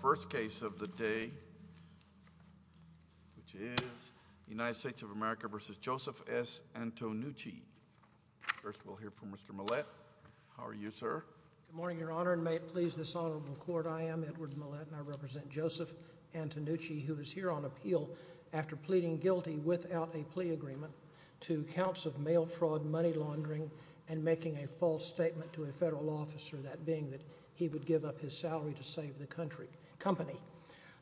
First case of the day, which is United States of America v. Joseph S. Antonucci. First we'll hear from Mr. Millett. How are you, sir? Good morning, Your Honor, and may it please this honorable court, I am Edward Millett, and I represent Joseph Antonucci, who is here on appeal after pleading guilty without a plea agreement to counts of mail fraud, money laundering, and making a false statement to a federal officer, that being that he would give up his salary to save the company.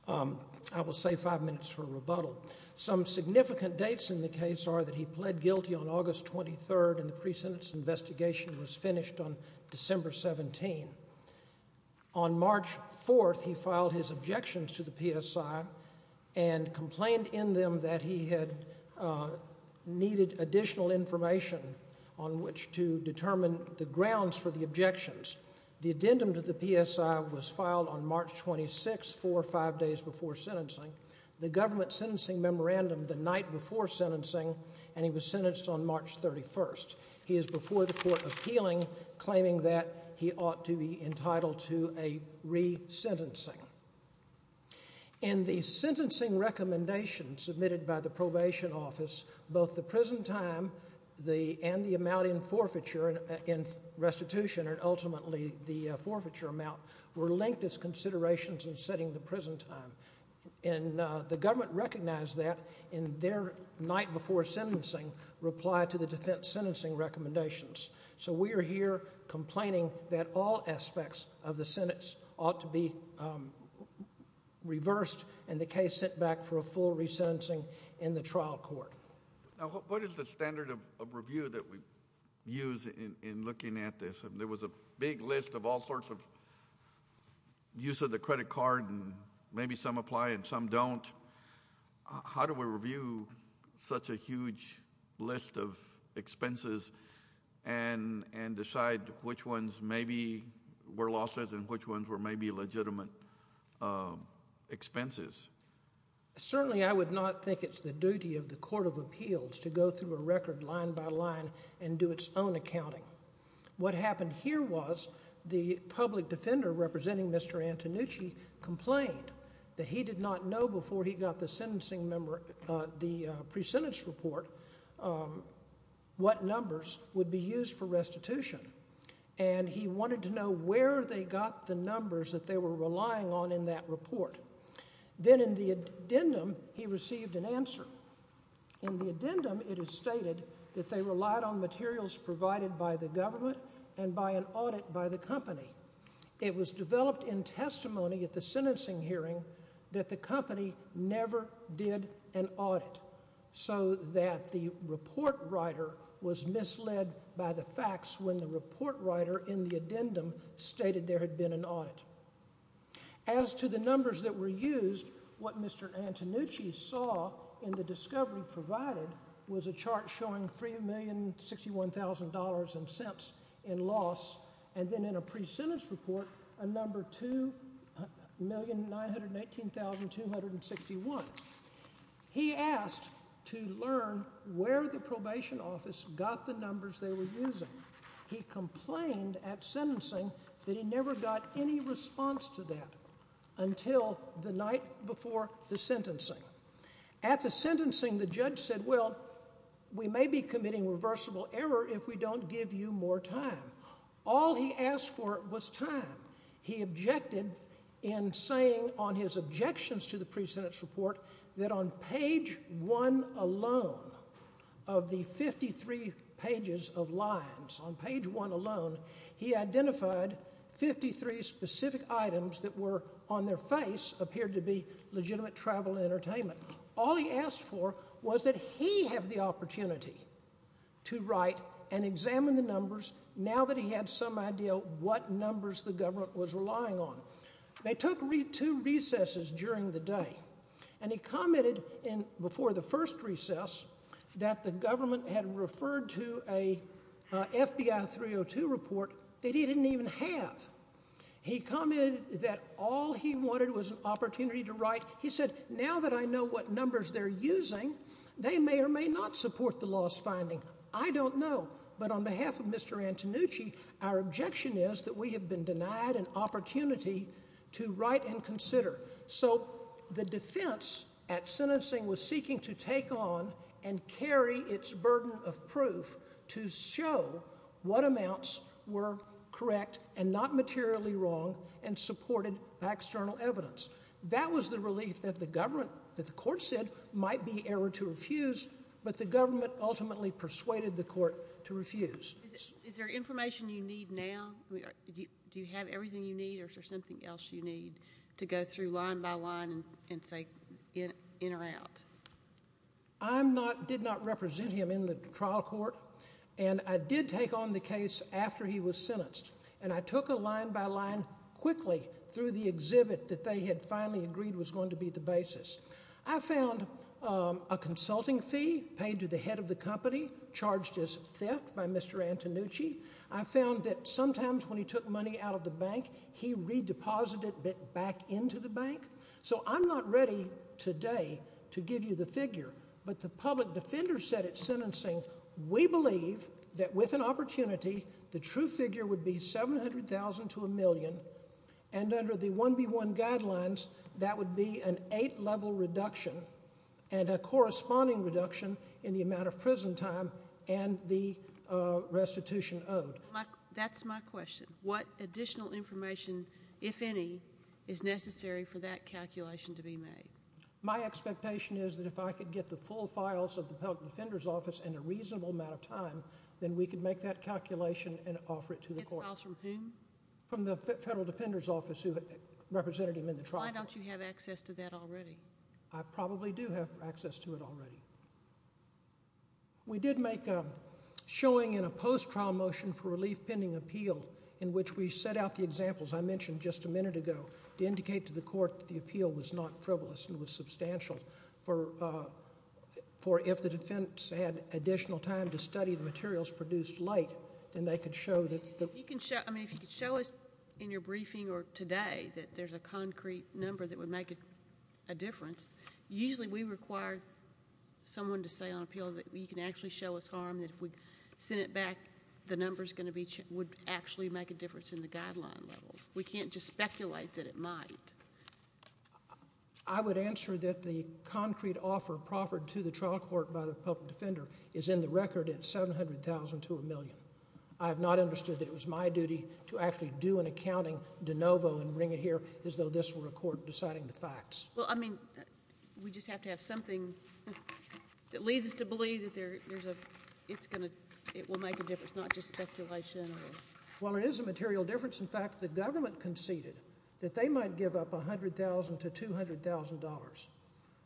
I will say five minutes for rebuttal. Some significant dates in the case are that he pled guilty on August 23rd, and the pre-sentence investigation was finished on December 17. On March 4th, he filed his objections to the PSI and complained in them that he had needed additional information on which to determine the grounds for the objections. The addendum to the PSI was filed on March 26th, four or five days before sentencing. The government sentencing memorandum the night before sentencing, and he was sentenced on March 31st. He is before the court appealing, claiming that he ought to be entitled to a re-sentencing. In the sentencing recommendation submitted by the probation office, both the prison time and the amount in restitution, and ultimately the forfeiture amount, were linked as considerations in setting the prison time. The government recognized that, and the night before sentencing, replied to the defense sentencing recommendations. So we are here complaining that all aspects of the sentence ought to be reversed, and the case sent back for a full re-sentencing in the trial court. Now, what is the standard of review that we use in looking at this? There was a big list of all sorts of use of the credit card, and maybe some apply and some don't. How do we review such a huge list of expenses and decide which ones maybe were losses and which ones were maybe legitimate expenses? Certainly, I would not think it's the duty of the Court of Appeals to go through a record line by line and do its own accounting. What happened here was the public defender representing Mr. Antonucci complained that he did not know before he got the pre-sentence report what numbers would be used for restitution, and he wanted to know where they got the numbers that they were relying on in that report. Then in the addendum, he received an answer. In the addendum, it is stated that they relied on materials provided by the government and by an audit by the company. It was developed in testimony at the sentencing hearing that the company never did an audit so that the report writer was misled by the facts when the report writer in the addendum stated there had been an audit. As to the numbers that were used, what Mr. Antonucci saw in the discovery provided was a chart showing $3,061,000 in cents in loss, and then in a pre-sentence report, a number 2,918,261. He asked to learn where the probation office got the numbers they were using. He complained at sentencing that he never got any response to that until the night before the sentencing. At the sentencing, the judge said, well, we may be committing reversible error if we don't give you more time. All he asked for was time. He objected in saying on his objections to the pre-sentence report that on page 1 alone of the 53 pages of lines, on page 1 alone, he identified 53 specific items that were on their face, appeared to be legitimate travel and entertainment. All he asked for was that he have the opportunity to write and examine the numbers now that he had some idea what numbers the government was relying on. They took two recesses during the day, and he commented before the first recess that the government had referred to an FBI 302 report that he didn't even have. He commented that all he wanted was an opportunity to write. He said, now that I know what numbers they're using, they may or may not support the law's finding. I don't know, but on behalf of Mr. Antonucci, our objection is that we have been denied an opportunity to write and consider. So the defense at sentencing was seeking to take on and carry its burden of proof to show what amounts were correct and not materially wrong and supported by external evidence. That was the relief that the court said might be error to refuse, but the government ultimately persuaded the court to refuse. Is there information you need now? Do you have everything you need, or is there something else you need to go through line by line and say in or out? I did not represent him in the trial court, and I did take on the case after he was sentenced, and I took a line by line quickly through the exhibit that they had finally agreed was going to be the basis. I found a consulting fee paid to the head of the company, charged as theft by Mr. Antonucci. I found that sometimes when he took money out of the bank, he redeposited it back into the bank. So I'm not ready today to give you the figure, but the public defender said at sentencing, we believe that with an opportunity, the true figure would be $700,000 to $1 million, and under the 1B1 guidelines, that would be an eight-level reduction and a corresponding reduction in the amount of prison time and the restitution owed. That's my question. What additional information, if any, is necessary for that calculation to be made? My expectation is that if I could get the full files of the public defender's office in a reasonable amount of time, then we could make that calculation and offer it to the court. Get the files from whom? From the federal defender's office who represented him in the trial court. Why don't you have access to that already? I probably do have access to it already. We did make a showing in a post-trial motion for a relief-pending appeal in which we set out the examples I mentioned just a minute ago to indicate to the court that the appeal was not frivolous and was substantial, for if the defense had additional time to study the materials produced late, then they could show that the— I mean, if you could show us in your briefing or today that there's a concrete number that would make a difference. Usually we require someone to say on appeal that you can actually show us harm, that if we send it back, the number would actually make a difference in the guideline level. We can't just speculate that it might. I would answer that the concrete offer proffered to the trial court by the public defender is in the record at $700,000 to $1 million. I have not understood that it was my duty to actually do an accounting de novo Well, I mean, we just have to have something that leads us to believe that it will make a difference, not just speculation. Well, it is a material difference. In fact, the government conceded that they might give up $100,000 to $200,000,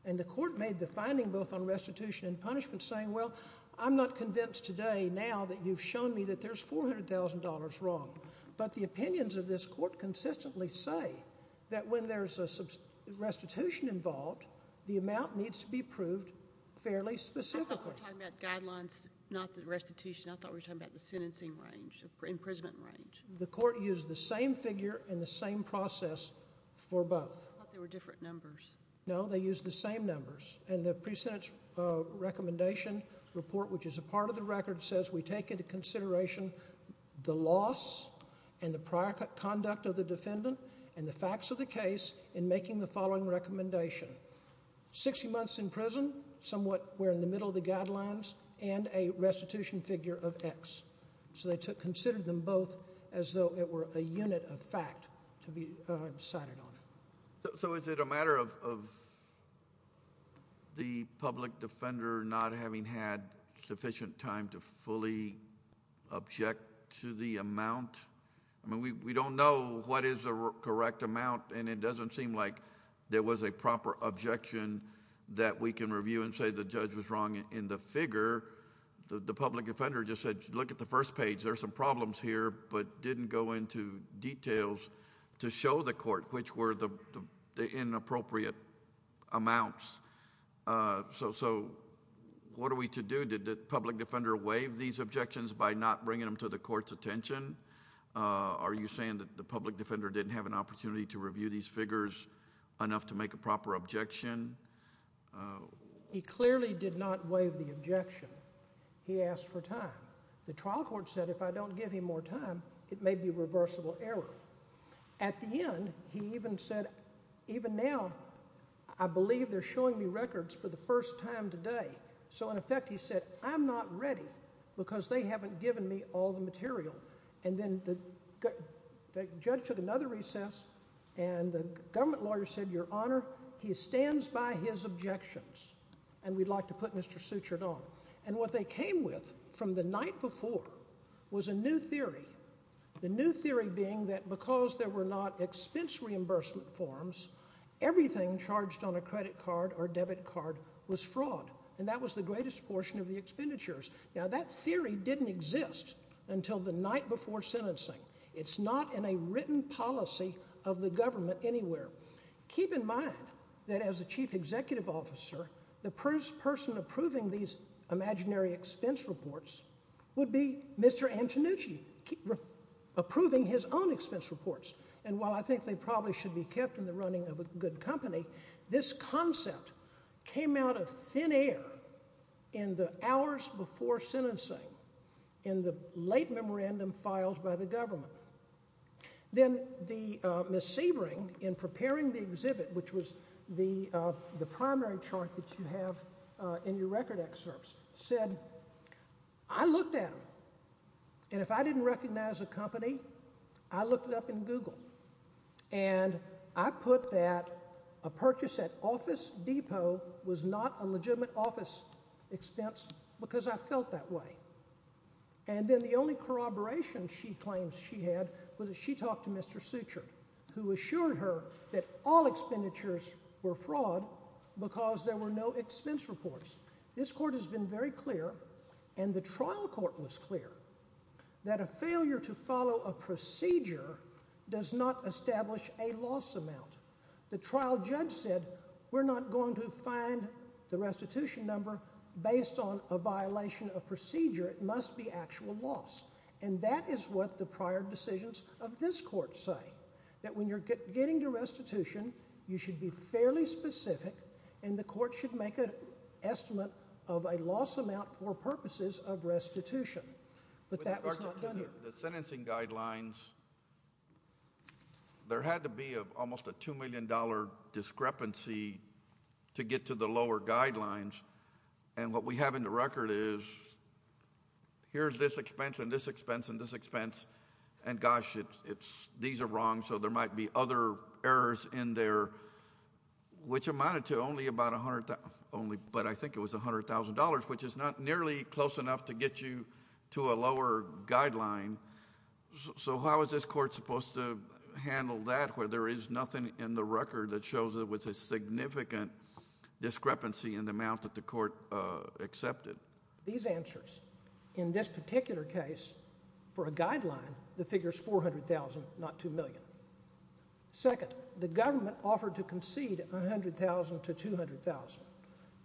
and the court made the finding both on restitution and punishment saying, well, I'm not convinced today now that you've shown me that there's $400,000 wrong, but the opinions of this court consistently say that when there's a restitution involved, the amount needs to be proved fairly specifically. I thought we were talking about guidelines, not the restitution. I thought we were talking about the sentencing range, the imprisonment range. The court used the same figure and the same process for both. I thought they were different numbers. No, they used the same numbers. And the pre-sentence recommendation report, which is a part of the record, says we take into consideration the loss and the prior conduct of the defendant and the facts of the case in making the following recommendation. Sixty months in prison, somewhat we're in the middle of the guidelines, and a restitution figure of X. So they considered them both as though it were a unit of fact to be decided on. So is it a matter of the public defender not having had sufficient time to fully object to the amount? I mean, we don't know what is the correct amount, and it doesn't seem like there was a proper objection that we can review and say the judge was wrong in the figure. The public offender just said, look at the first page. There are some problems here, but didn't go into details to show the court which were the inappropriate amounts. So what are we to do? Did the public defender waive these objections by not bringing them to the court's attention? Are you saying that the public defender didn't have an opportunity to review these figures enough to make a proper objection? He clearly did not waive the objection. He asked for time. The trial court said if I don't give him more time, it may be a reversible error. At the end, he even said, even now, I believe they're showing me records for the first time today. So in effect, he said, I'm not ready because they haven't given me all the material. And then the judge took another recess, and the government lawyer said, Your Honor, he stands by his objections, and we'd like to put Mr. Suchard on. And what they came with from the night before was a new theory, the new theory being that because there were not expense reimbursement forms, everything charged on a credit card or debit card was fraud, and that was the greatest portion of the expenditures. Now, that theory didn't exist until the night before sentencing. It's not in a written policy of the government anywhere. Keep in mind that as a chief executive officer, the person approving these imaginary expense reports would be Mr. Antonucci approving his own expense reports. And while I think they probably should be kept in the running of a good company, this concept came out of thin air in the hours before sentencing in the late memorandum filed by the government. Then Ms. Sebring, in preparing the exhibit, which was the primary chart that you have in your record excerpts, said, I looked at them, and if I didn't recognize a company, I looked it up in Google, and I put that a purchase at Office Depot was not a legitimate office expense because I felt that way. And then the only corroboration she claims she had was that she talked to Mr. Suchard, who assured her that all expenditures were fraud because there were no expense reports. This court has been very clear, and the trial court was clear, that a failure to follow a procedure does not establish a loss amount. The trial judge said we're not going to find the restitution number based on a violation of procedure. It must be actual loss. And that is what the prior decisions of this court say, that when you're getting to restitution, you should be fairly specific, and the court should make an estimate of a loss amount for purposes of restitution. But that was not done here. The sentencing guidelines, there had to be almost a $2 million discrepancy to get to the lower guidelines, and what we have in the record is here's this expense and this expense and this expense, and gosh, these are wrong, so there might be other errors in there, which amounted to only about $100,000, which is not nearly close enough to get you to a lower guideline, so how is this court supposed to handle that where there is nothing in the record that shows there was a significant discrepancy in the amount that the court accepted? These answers, in this particular case, for a guideline, the figure is $400,000, not $2 million. Second, the government offered to concede $100,000 to $200,000.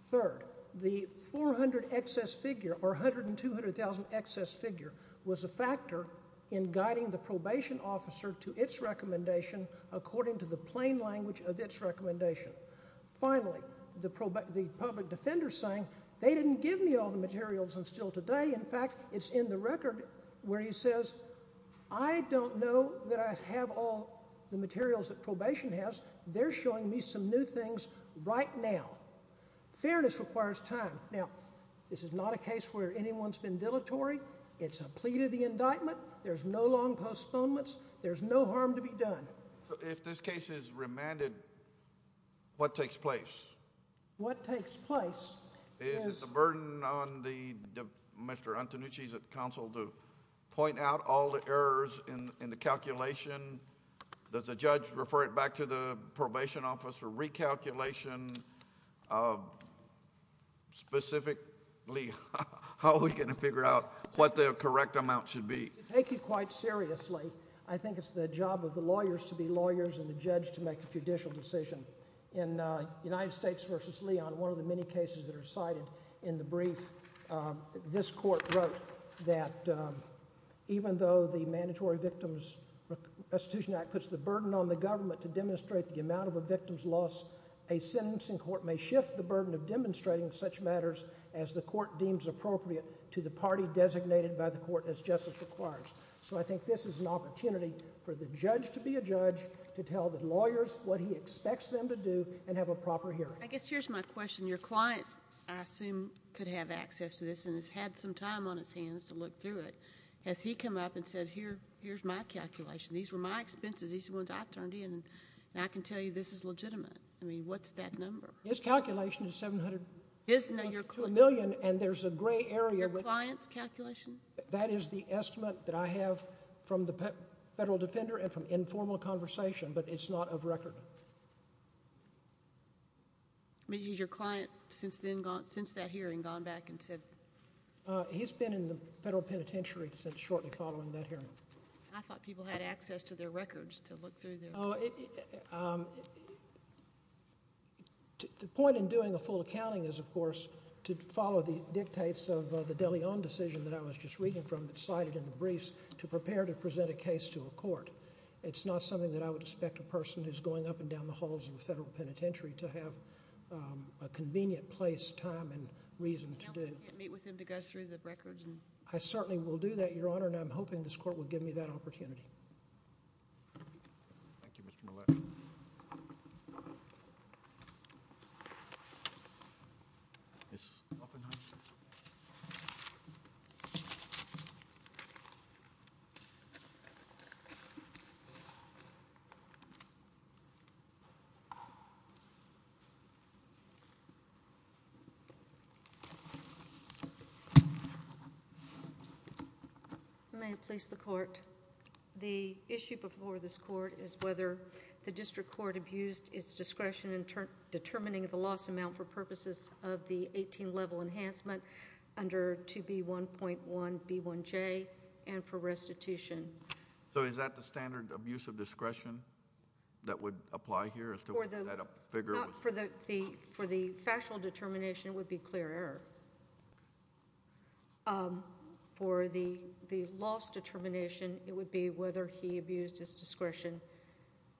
Third, the $400,000 excess figure or $100,000 and $200,000 excess figure was a factor in guiding the probation officer to its recommendation according to the plain language of its recommendation. Finally, the public defender saying they didn't give me all the materials until today. In fact, it's in the record where he says, I don't know that I have all the materials that probation has. They're showing me some new things right now. Fairness requires time. Now, this is not a case where anyone's been dilatory. It's a plea to the indictment. There's no long postponements. There's no harm to be done. So if this case is remanded, what takes place? What takes place is— Is it the burden on Mr. Antonucci's counsel to point out all the errors in the calculation? Does the judge refer it back to the probation officer recalculation? Specifically, how are we going to figure out what the correct amount should be? To take it quite seriously, I think it's the job of the lawyers to be lawyers and the judge to make a judicial decision. In United States v. Leon, one of the many cases that are cited in the brief, this court wrote that even though the Mandatory Victims Restitution Act puts the burden on the government to demonstrate the amount of a victim's loss, a sentencing court may shift the burden of demonstrating such matters as the court deems appropriate to the party designated by the court as justice requires. So I think this is an opportunity for the judge to be a judge, to tell the lawyers what he expects them to do, and have a proper hearing. I guess here's my question. Your client, I assume, could have access to this and has had some time on his hands to look through it. Has he come up and said, here's my calculation. These were my expenses. These are the ones I turned in, and I can tell you this is legitimate. I mean, what's that number? His calculation is $702 million, and there's a gray area— Your client's calculation? That is the estimate that I have from the federal defender and from informal conversation, but it's not of record. I mean, has your client since that hearing gone back and said— He's been in the federal penitentiary since shortly following that hearing. I thought people had access to their records to look through their records. The point in doing a full accounting is, of course, to follow the dictates of the De Leon decision that I was just reading from, that's cited in the briefs, to prepare to present a case to a court. It's not something that I would expect a person who's going up and down the halls of a federal penitentiary to have a convenient place, time, and reason to do. You can't meet with him to go through the records? I certainly will do that, Your Honor, and I'm hoping this court will give me that opportunity. Thank you, Mr. Millett. Ms. Oppenheimer. May it please the court. The issue before this court is whether the district court abused its discretion in determining the loss amount for purposes of the 18-level enhancement under 2B1.1B1J and for restitution. So is that the standard abuse of discretion that would apply here as to whether that figure was... For the factional determination, it would be clear error. For the loss determination, it would be whether he abused his discretion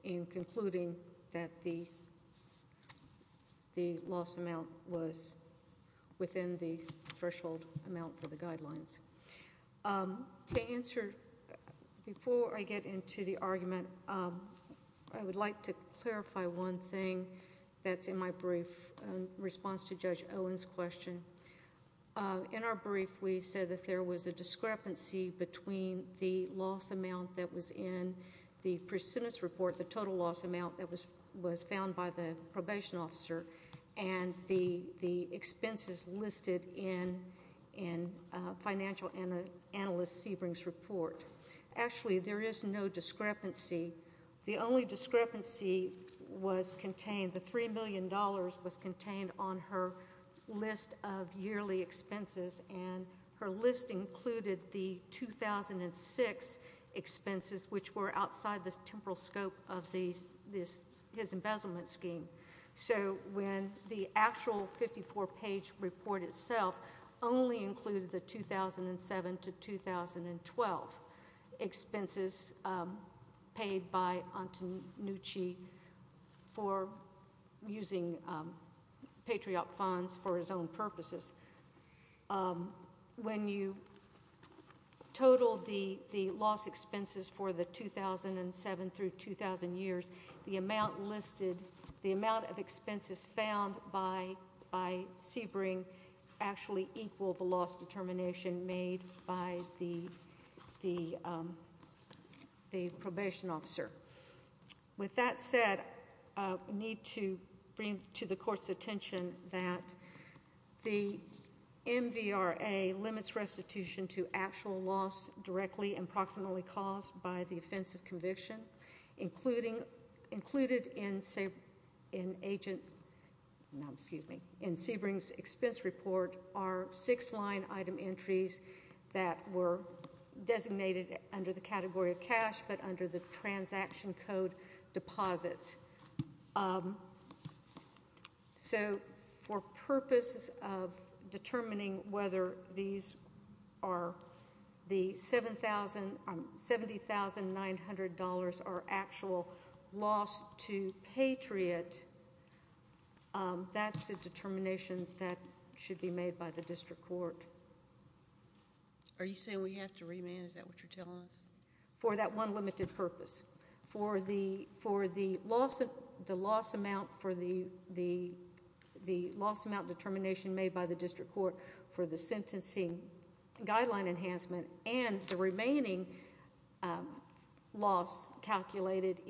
in concluding that the loss amount was within the threshold amount for the guidelines. To answer, before I get into the argument, I would like to clarify one thing that's in my brief in response to Judge Owen's question. In our brief, we said that there was a discrepancy between the loss amount that was in the precedence report, the total loss amount that was found by the probation officer, and the expenses listed in financial analyst Sebring's report. Actually, there is no discrepancy. The only discrepancy was contained... the $3 million was contained on her list of yearly expenses, and her list included the 2006 expenses, which were outside the temporal scope of his embezzlement scheme. So when the actual 54-page report itself only included the 2007 to 2012 expenses paid by Antonucci for using Patriot funds for his own purposes, when you total the loss expenses for the 2007 through 2000 years, the amount of expenses found by Sebring actually equal the loss determination made by the probation officer. With that said, I need to bring to the Court's attention that the MVRA limits restitution to actual loss directly and proximately caused by the offense of conviction, including... included in Sebring's expense report are six line item entries that were designated under the category of cash but under the transaction code deposits. So for purposes of determining whether these are the $70,900 are actual loss to Patriot, that's a determination that should be made by the District Court. Are you saying we have to remand? Is that what you're telling us? For that one limited purpose, for the loss amount determination made by the District Court for the sentencing guideline enhancement and the remaining loss calculated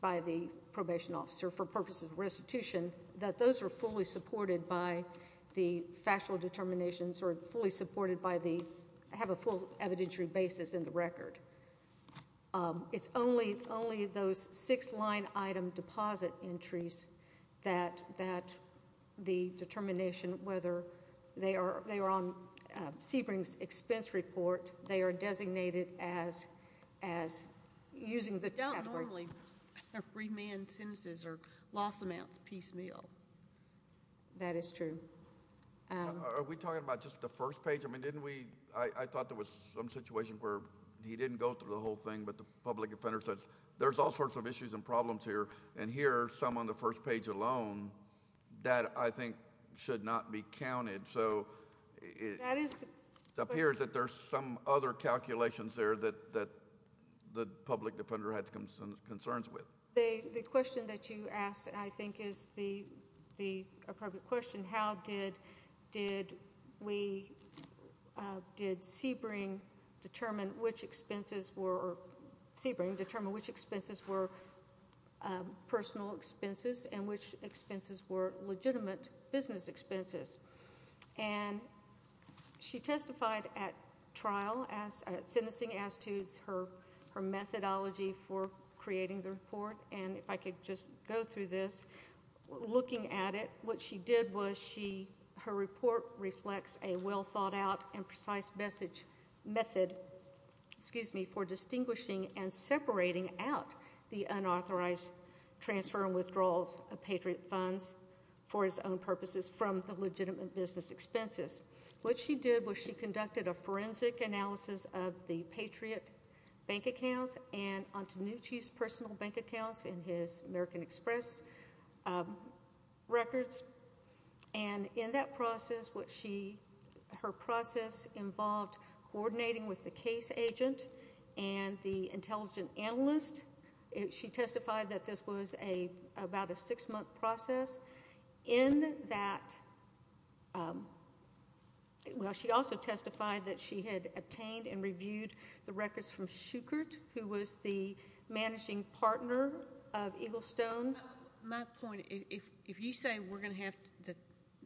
by the probation officer for purposes of restitution, that those are fully supported by the factual determinations or fully supported by the... have a full evidentiary basis in the record. It's only those six line item deposit entries that the determination whether they are on Sebring's expense report, they are designated as using the category... That is true. Are we talking about just the first page? I mean, didn't we... I thought there was some situation where he didn't go through the whole thing, but the public defender says there's all sorts of issues and problems here, and here are some on the first page alone that I think should not be counted. That is... It appears that there's some other calculations there that the public defender had some concerns with. The question that you asked, I think, is the appropriate question. How did Sebring determine which expenses were personal expenses and which expenses were legitimate business expenses? And, she testified at trial, at sentencing, as to her methodology for creating the report, and if I could just go through this. Looking at it, what she did was she... her report reflects a well thought out and precise message method, excuse me, for distinguishing and separating out the unauthorized transfer and withdrawals of Patriot funds for its own purposes from the legitimate business expenses. What she did was she conducted a forensic analysis of the Patriot bank accounts and Antonucci's personal bank accounts in his American Express records. And, in that process, what she... her process involved coordinating with the case agent and the intelligent analyst. She testified that this was about a six month process. In that... well, she also testified that she had obtained and reviewed the records from Schuchert, who was the managing partner of Eagle Stone. My point, if you say we're going to have to...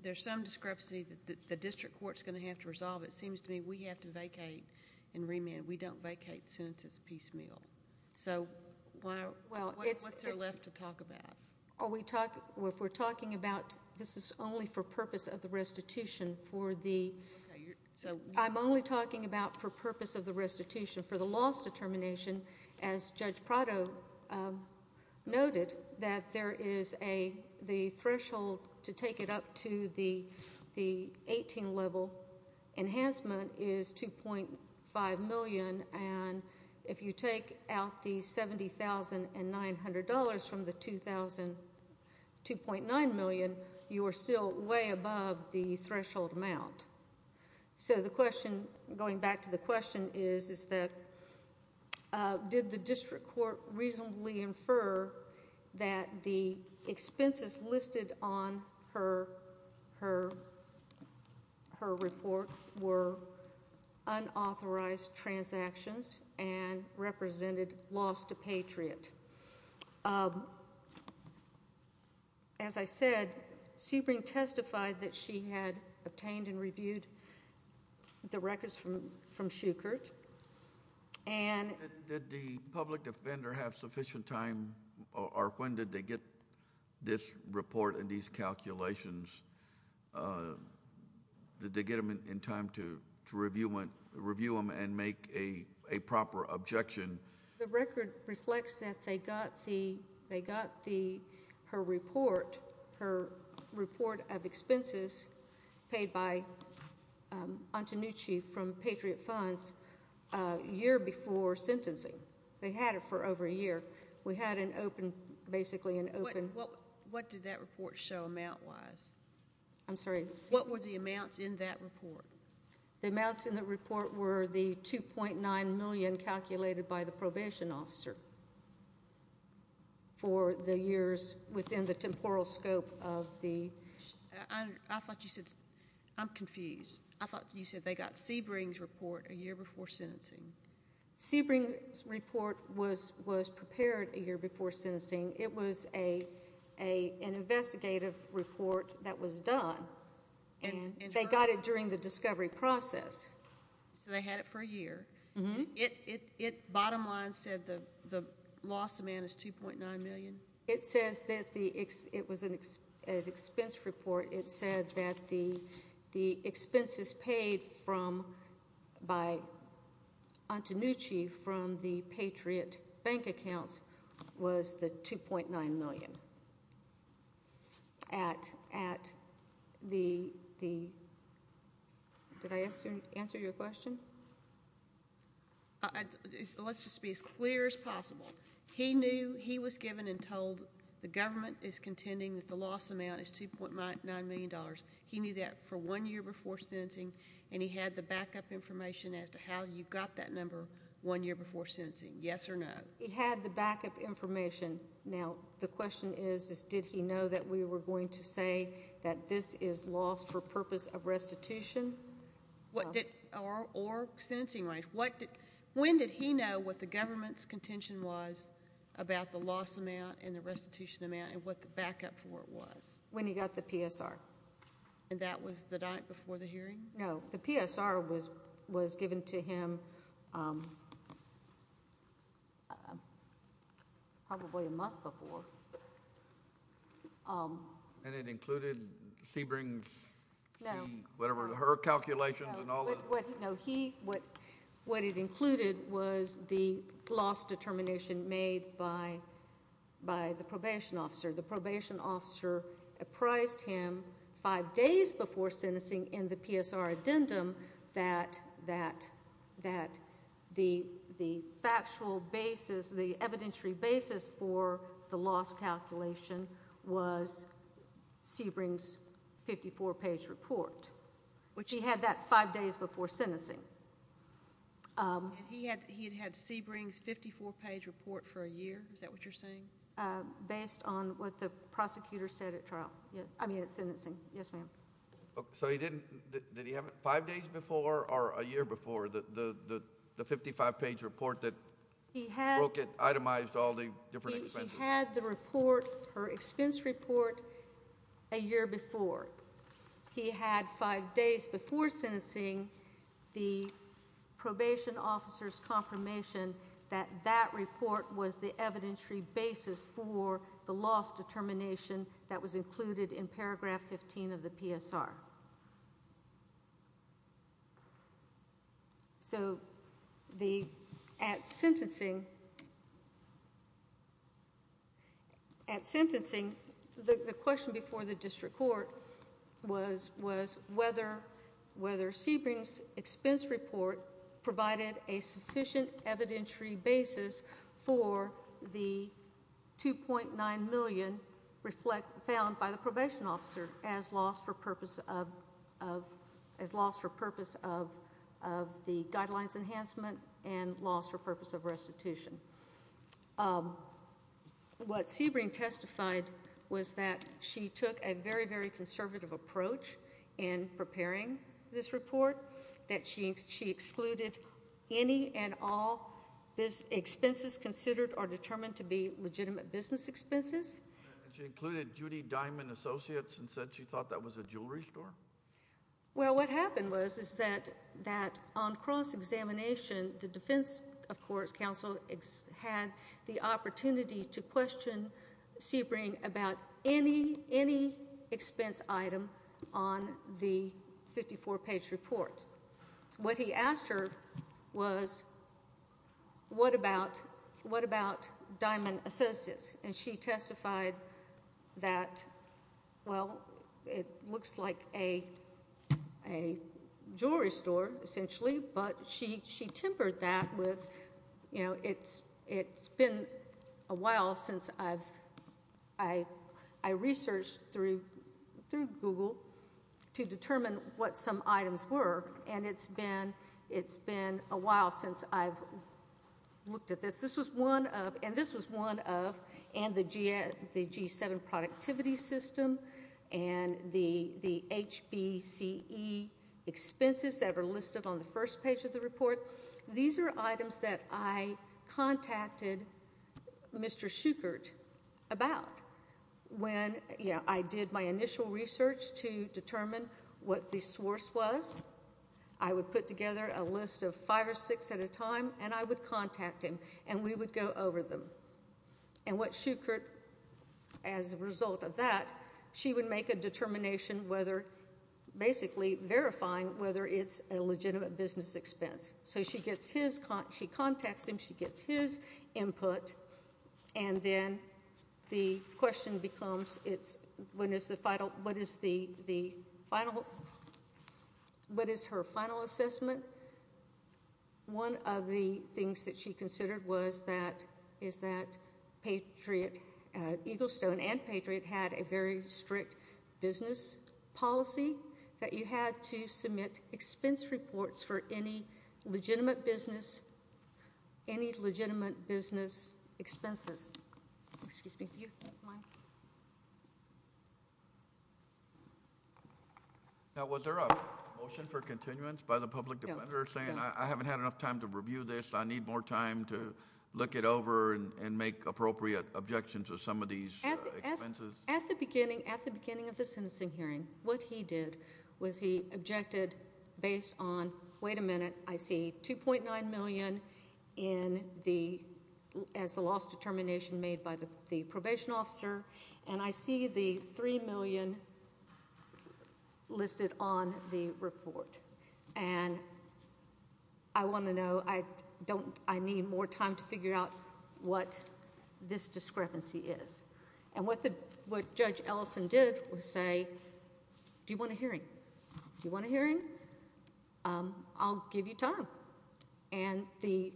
there's some discrepancy that the district court's going to have to resolve, it seems to me we have to vacate and remand. We don't vacate as soon as it's piecemeal. So, what's there left to talk about? Are we talking... if we're talking about this is only for purpose of the restitution for the... Okay, so... And, if you take out the $70,900 from the $2,000... $2.9 million, you are still way above the threshold amount. So, the question... going back to the question is... is that... did the district court reasonably infer that the expenses listed on her... her... her report were unauthorized transactions and represented loss to Patriot? As I said, Sebring testified that she had obtained and reviewed the records from Schuchert and... Did the public defender have sufficient time or when did they get this report and these calculations? Did they get them in time to review them and make a proper objection? The record reflects that they got the... they got the... her report... her report of expenses paid by Antonucci from Patriot Funds a year before sentencing. They had it for over a year. We had an open... basically an open... What... what... what did that report show amount wise? I'm sorry. What were the amounts in that report? The amounts in the report were the 2.9 million calculated by the probation officer for the years within the temporal scope of the... I thought you said... I'm confused. I thought you said they got Sebring's report a year before sentencing. Sebring's report was... was prepared a year before sentencing. It was a... a... an investigative report that was done. They got it during the discovery process. So they had it for a year. Bottom line said the loss amount is 2.9 million? It says that the... it was an expense report. It said that the expenses paid from... by Antonucci from the Patriot Bank accounts was the 2.9 million at the... Did I answer your question? Let's just be as clear as possible. He knew... he was given and told the government is contending that the loss amount is 2.9 million dollars. He knew that for one year before sentencing, and he had the backup information as to how you got that number one year before sentencing. Yes or no? He had the backup information. Now, the question is did he know that we were going to say that this is loss for purpose of restitution? What did... or sentencing range. When did he know what the government's contention was about the loss amount and the restitution amount and what the backup for it was? When he got the PSR. And that was the night before the hearing? No. The PSR was given to him probably a month before. And it included Sebring's... No. Whatever, her calculations and all that? What it included was the loss determination made by the probation officer. The probation officer apprised him five days before sentencing in the PSR addendum that the factual basis, the evidentiary basis for the loss calculation was Sebring's 54-page report, which he had that five days before sentencing. He had Sebring's 54-page report for a year? Is that what you're saying? Based on what the prosecutor said at trial. I mean at sentencing. Yes, ma'am. So he didn't... did he have it five days before or a year before, the 55-page report that broke it, itemized all the different expenses? He had the report, her expense report, a year before. He had five days before sentencing the probation officer's confirmation that that report was the evidentiary basis for the loss determination that was included in paragraph 15 of the PSR. So at sentencing, the question before the district court was whether Sebring's expense report provided a sufficient evidentiary basis for the $2.9 million found by the probation officer as loss for purpose of the guidelines enhancement and loss for purpose of restitution. What Sebring testified was that she took a very, very conservative approach in preparing this report, that she excluded any and all expenses considered or determined to be legitimate business expenses. She included Judy Diamond Associates and said she thought that was a jewelry store? Well, what happened was is that on cross-examination, the defense, of course, counsel, had the opportunity to question Sebring about any expense item on the 54-page report. What he asked her was, what about Diamond Associates? And she testified that, well, it looks like a jewelry store, essentially, but she tempered that with, you know, it's been a while since I've, I researched through Google to determine what some items were, and it's been a while since I've looked at this. This was one of, and this was one of, and the G7 productivity system and the HBCE expenses that were listed on the first page of the report. These are items that I contacted Mr. Schuchert about. When, you know, I did my initial research to determine what the source was, I would put together a list of five or six at a time, and I would contact him, and we would go over them. And what Schuchert, as a result of that, she would make a determination whether, basically verifying whether it's a legitimate business expense. So she gets his, she contacts him, she gets his input, and then the question becomes, it's, when is the final, what is the final, what is her final assessment? One of the things that she considered was that, is that Patriot, Eaglestone and Patriot had a very strict business policy that you had to submit expense reports for any legitimate business, any legitimate business expenses. Excuse me. Mike. Now, was there a motion for continuance by the public defender saying, I haven't had enough time to review this, I need more time to look it over and make appropriate objections to some of these expenses? At the beginning, at the beginning of the sentencing hearing, what he did was he objected based on, wait a minute, I see $2.9 million in the, as the loss determination made by the probation officer, and I see the $3 million listed on the report. And I want to know, I don't, I need more time to figure out what this discrepancy is. And what the, what Judge Ellison did was say, do you want a hearing? Do you want a hearing? I'll give you time. And the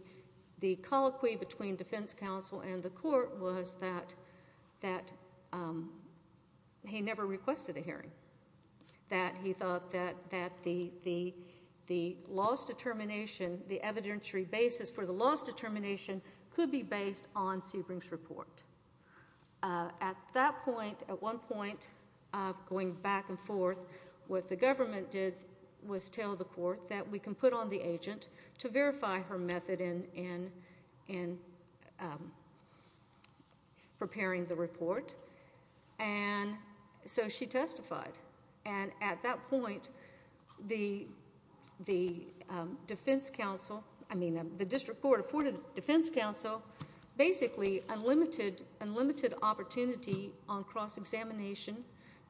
colloquy between defense counsel and the court was that he never requested a hearing, that he thought that the loss determination, the evidentiary basis for the loss determination could be based on Sebring's report. At that point, at one point, going back and forth, what the government did was tell the court that we can put on the agent to verify her method in preparing the report. And so she testified. And at that point, the defense counsel, I mean, the district court afforded the defense counsel basically unlimited, unlimited opportunity on cross-examination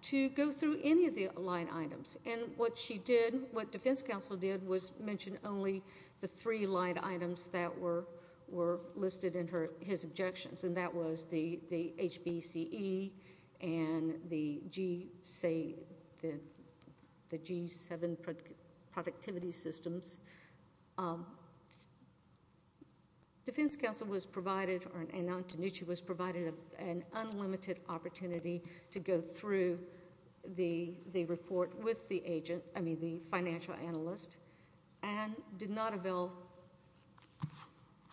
to go through any of the line items. And what she did, what defense counsel did was mention only the three line items that were listed in her, his objections. And that was the HBCE and the G, say, the G7 productivity systems. Defense counsel was provided, and Antonucci was provided an unlimited opportunity to go through the report with the agent, I mean, the financial analyst, and did not avail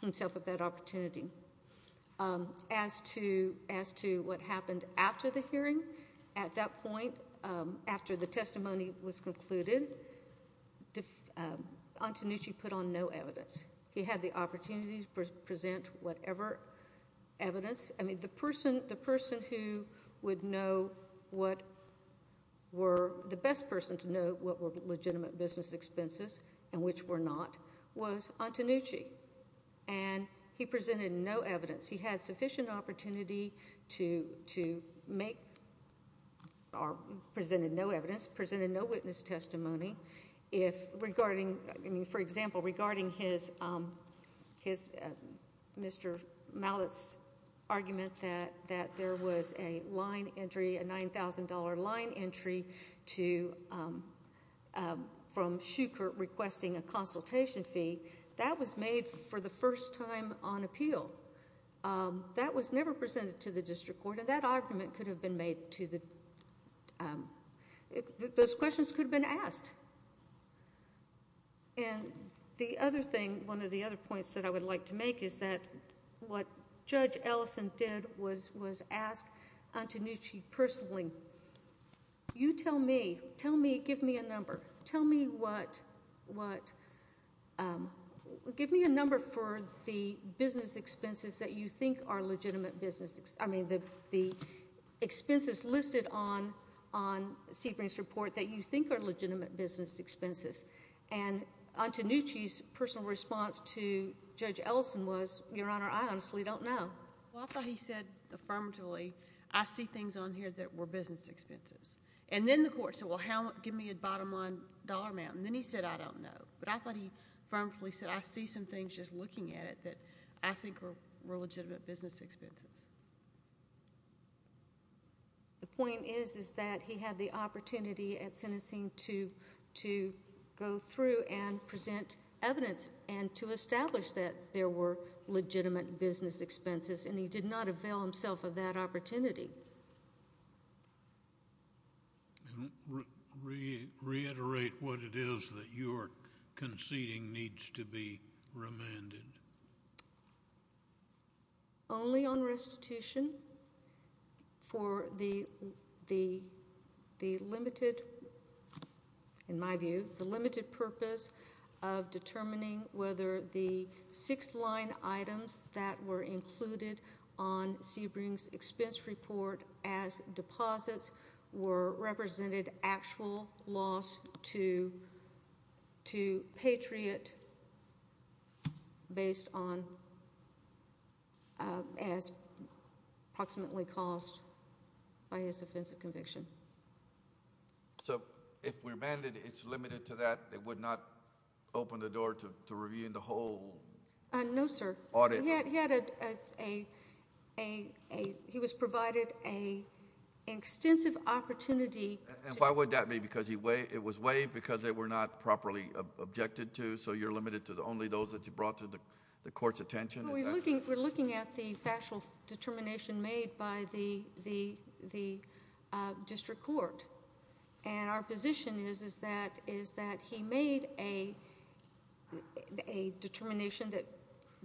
himself of that opportunity. As to what happened after the hearing, at that point, after the testimony was concluded, Antonucci put on no evidence. He had the opportunity to present whatever evidence. I mean, the person who would know what were, the best person to know what were legitimate business expenses and which were not, was Antonucci. And he presented no evidence. He had sufficient opportunity to make, or presented no evidence, presented no witness testimony. If, regarding, I mean, for example, regarding his, Mr. Mallett's argument that there was a line entry, a $9,000 line entry to, from Shukert requesting a consultation fee, that was made for the first time on appeal. That was never presented to the district court. And that argument could have been made to the, those questions could have been asked. And the other thing, one of the other points that I would like to make is that what Judge Ellison did was ask Antonucci personally, you tell me, tell me, give me a number. Tell me what, what, give me a number for the business expenses that you think are legitimate business, I mean, the expenses listed on Sebring's report that you think are legitimate business expenses. And Antonucci's personal response to Judge Ellison was, Your Honor, I honestly don't know. Well, I thought he said affirmatively, I see things on here that were business expenses. And then the court said, well, how, give me a bottom line dollar amount. And then he said, I don't know. But I thought he affirmatively said, I see some things just looking at it that I think were legitimate business expenses. The point is, is that he had the opportunity at sentencing to go through and present evidence and to establish that there were legitimate business expenses, and he did not avail himself of that opportunity. And reiterate what it is that you are conceding needs to be remanded. Only on restitution for the limited, in my view, the limited purpose of determining whether the six line items that were included on Sebring's expense report as deposits were represented actual loss to Patriot based on, as approximately cost by his offensive conviction. So if we're mandated, it's limited to that? It would not open the door to reviewing the whole audit? No, sir. He was provided an extensive opportunity. And why would that be? Because it was waived because they were not properly objected to? So you're limited to only those that you brought to the court's attention? We're looking at the factual determination made by the district court. And our position is that he made a determination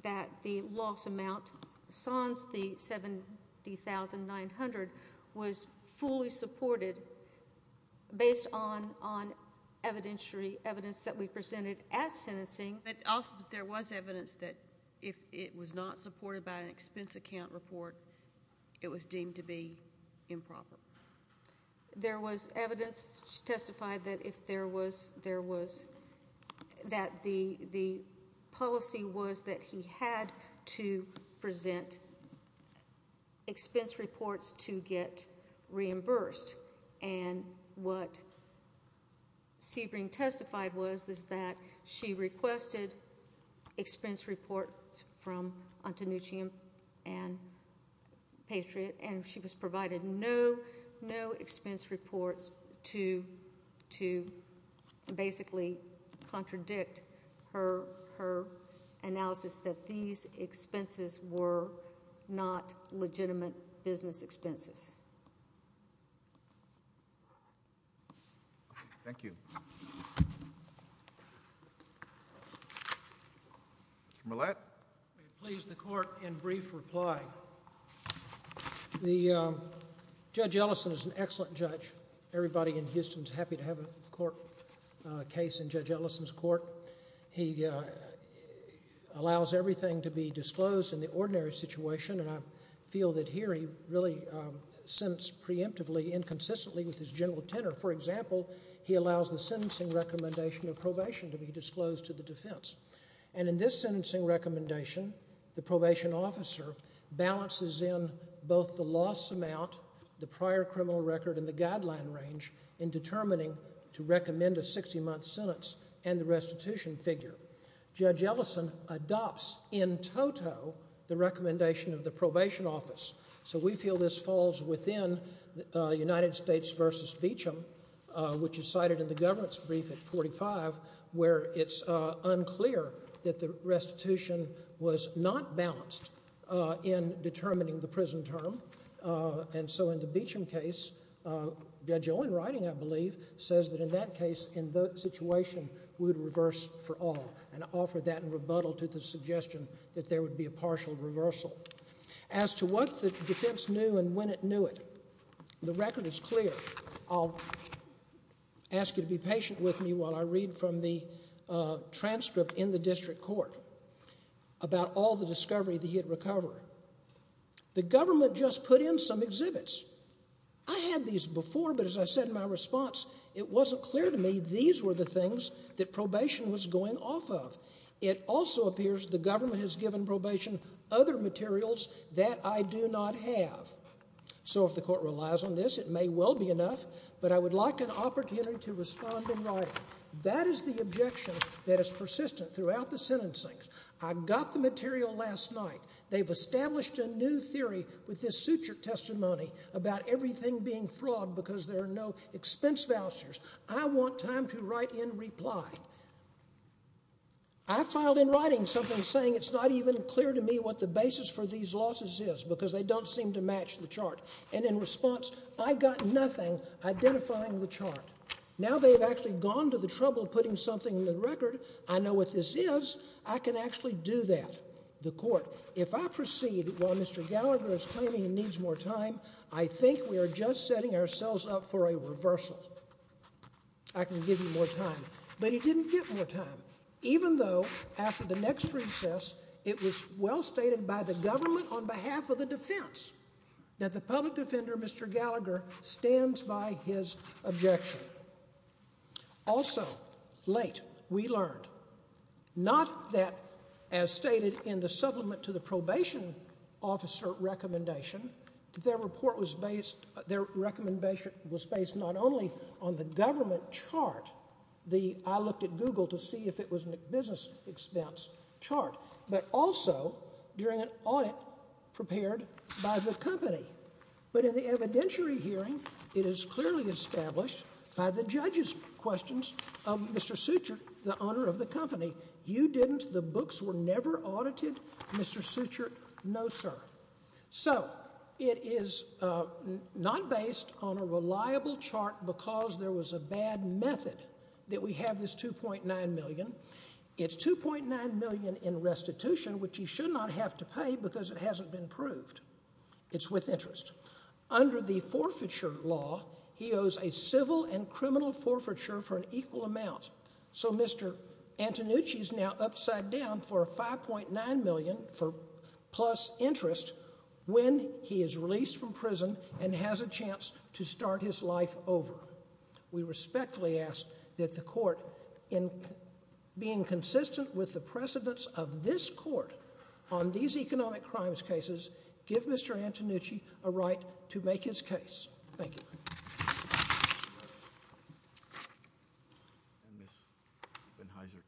that the loss amount sans the $70,900 was fully supported based on evidentiary evidence that we presented at sentencing. But there was evidence that if it was not supported by an expense account report, it was deemed to be improper. There was evidence to testify that the policy was that he had to present expense reports to get reimbursed. And what Sebring testified was is that she requested expense reports from Antonucci and Patriot, and she was provided no expense report to basically contradict her analysis that these expenses were not legitimate business expenses. Thank you. Mr. Millett? I would please the court in brief reply. Judge Ellison is an excellent judge. Everybody in Houston is happy to have a case in Judge Ellison's court. He allows everything to be disclosed in the ordinary situation, and I feel that here he really sentenced preemptively, inconsistently with his general tenor. For example, he allows the sentencing recommendation of probation to be disclosed to the defense. And in this sentencing recommendation, the probation officer balances in both the loss amount, the prior criminal record, and the guideline range in determining to recommend a 60-month sentence and the restitution figure. Judge Ellison adopts in toto the recommendation of the probation office. So we feel this falls within United States v. Beecham, which is cited in the government's brief at 45, where it's unclear that the restitution was not balanced in determining the prison term. And so in the Beecham case, Judge Owen writing, I believe, says that in that case, in that situation, we would reverse for all and offer that in rebuttal to the suggestion that there would be a partial reversal. As to what the defense knew and when it knew it, the record is clear. I'll ask you to be patient with me while I read from the transcript in the district court about all the discovery that he had recovered. The government just put in some exhibits. I had these before, but as I said in my response, it wasn't clear to me these were the things that probation was going off of. It also appears the government has given probation other materials that I do not have. So if the court relies on this, it may well be enough, but I would like an opportunity to respond in writing. That is the objection that is persistent throughout the sentencing. I got the material last night. They've established a new theory with this suture testimony about everything being fraud because there are no expense vouchers. I want time to write in reply. I filed in writing something saying it's not even clear to me what the basis for these losses is because they don't seem to match the chart. And in response, I got nothing identifying the chart. Now they've actually gone to the trouble of putting something in the record. I know what this is. I can actually do that. If I proceed while Mr. Gallagher is claiming he needs more time, I think we are just setting ourselves up for a reversal. I can give you more time. But he didn't get more time, even though after the next recess it was well stated by the government on behalf of the defense that the public defender, Mr. Gallagher, stands by his objection. Also, late, we learned, not that, as stated in the supplement to the probation officer recommendation, that their report was based, their recommendation was based not only on the government chart, the I looked at Google to see if it was a business expense chart, but also during an audit prepared by the company. But in the evidentiary hearing, it is clearly established by the judge's questions of Mr. Suchert, the owner of the company, you didn't, the books were never audited, Mr. Suchert, no sir. So, it is not based on a reliable chart because there was a bad method that we have this $2.9 million. It's $2.9 million in restitution, which you should not have to pay because it hasn't been proved. It's with interest. Under the forfeiture law, he owes a civil and criminal forfeiture for an equal amount. So, Mr. Antonucci is now upside down for $5.9 million plus interest when he is released from prison and has a chance to start his life over. We respectfully ask that the court, in being consistent with the precedence of this court on these economic crimes cases, give Mr. Antonucci a right to make his case. Thank you.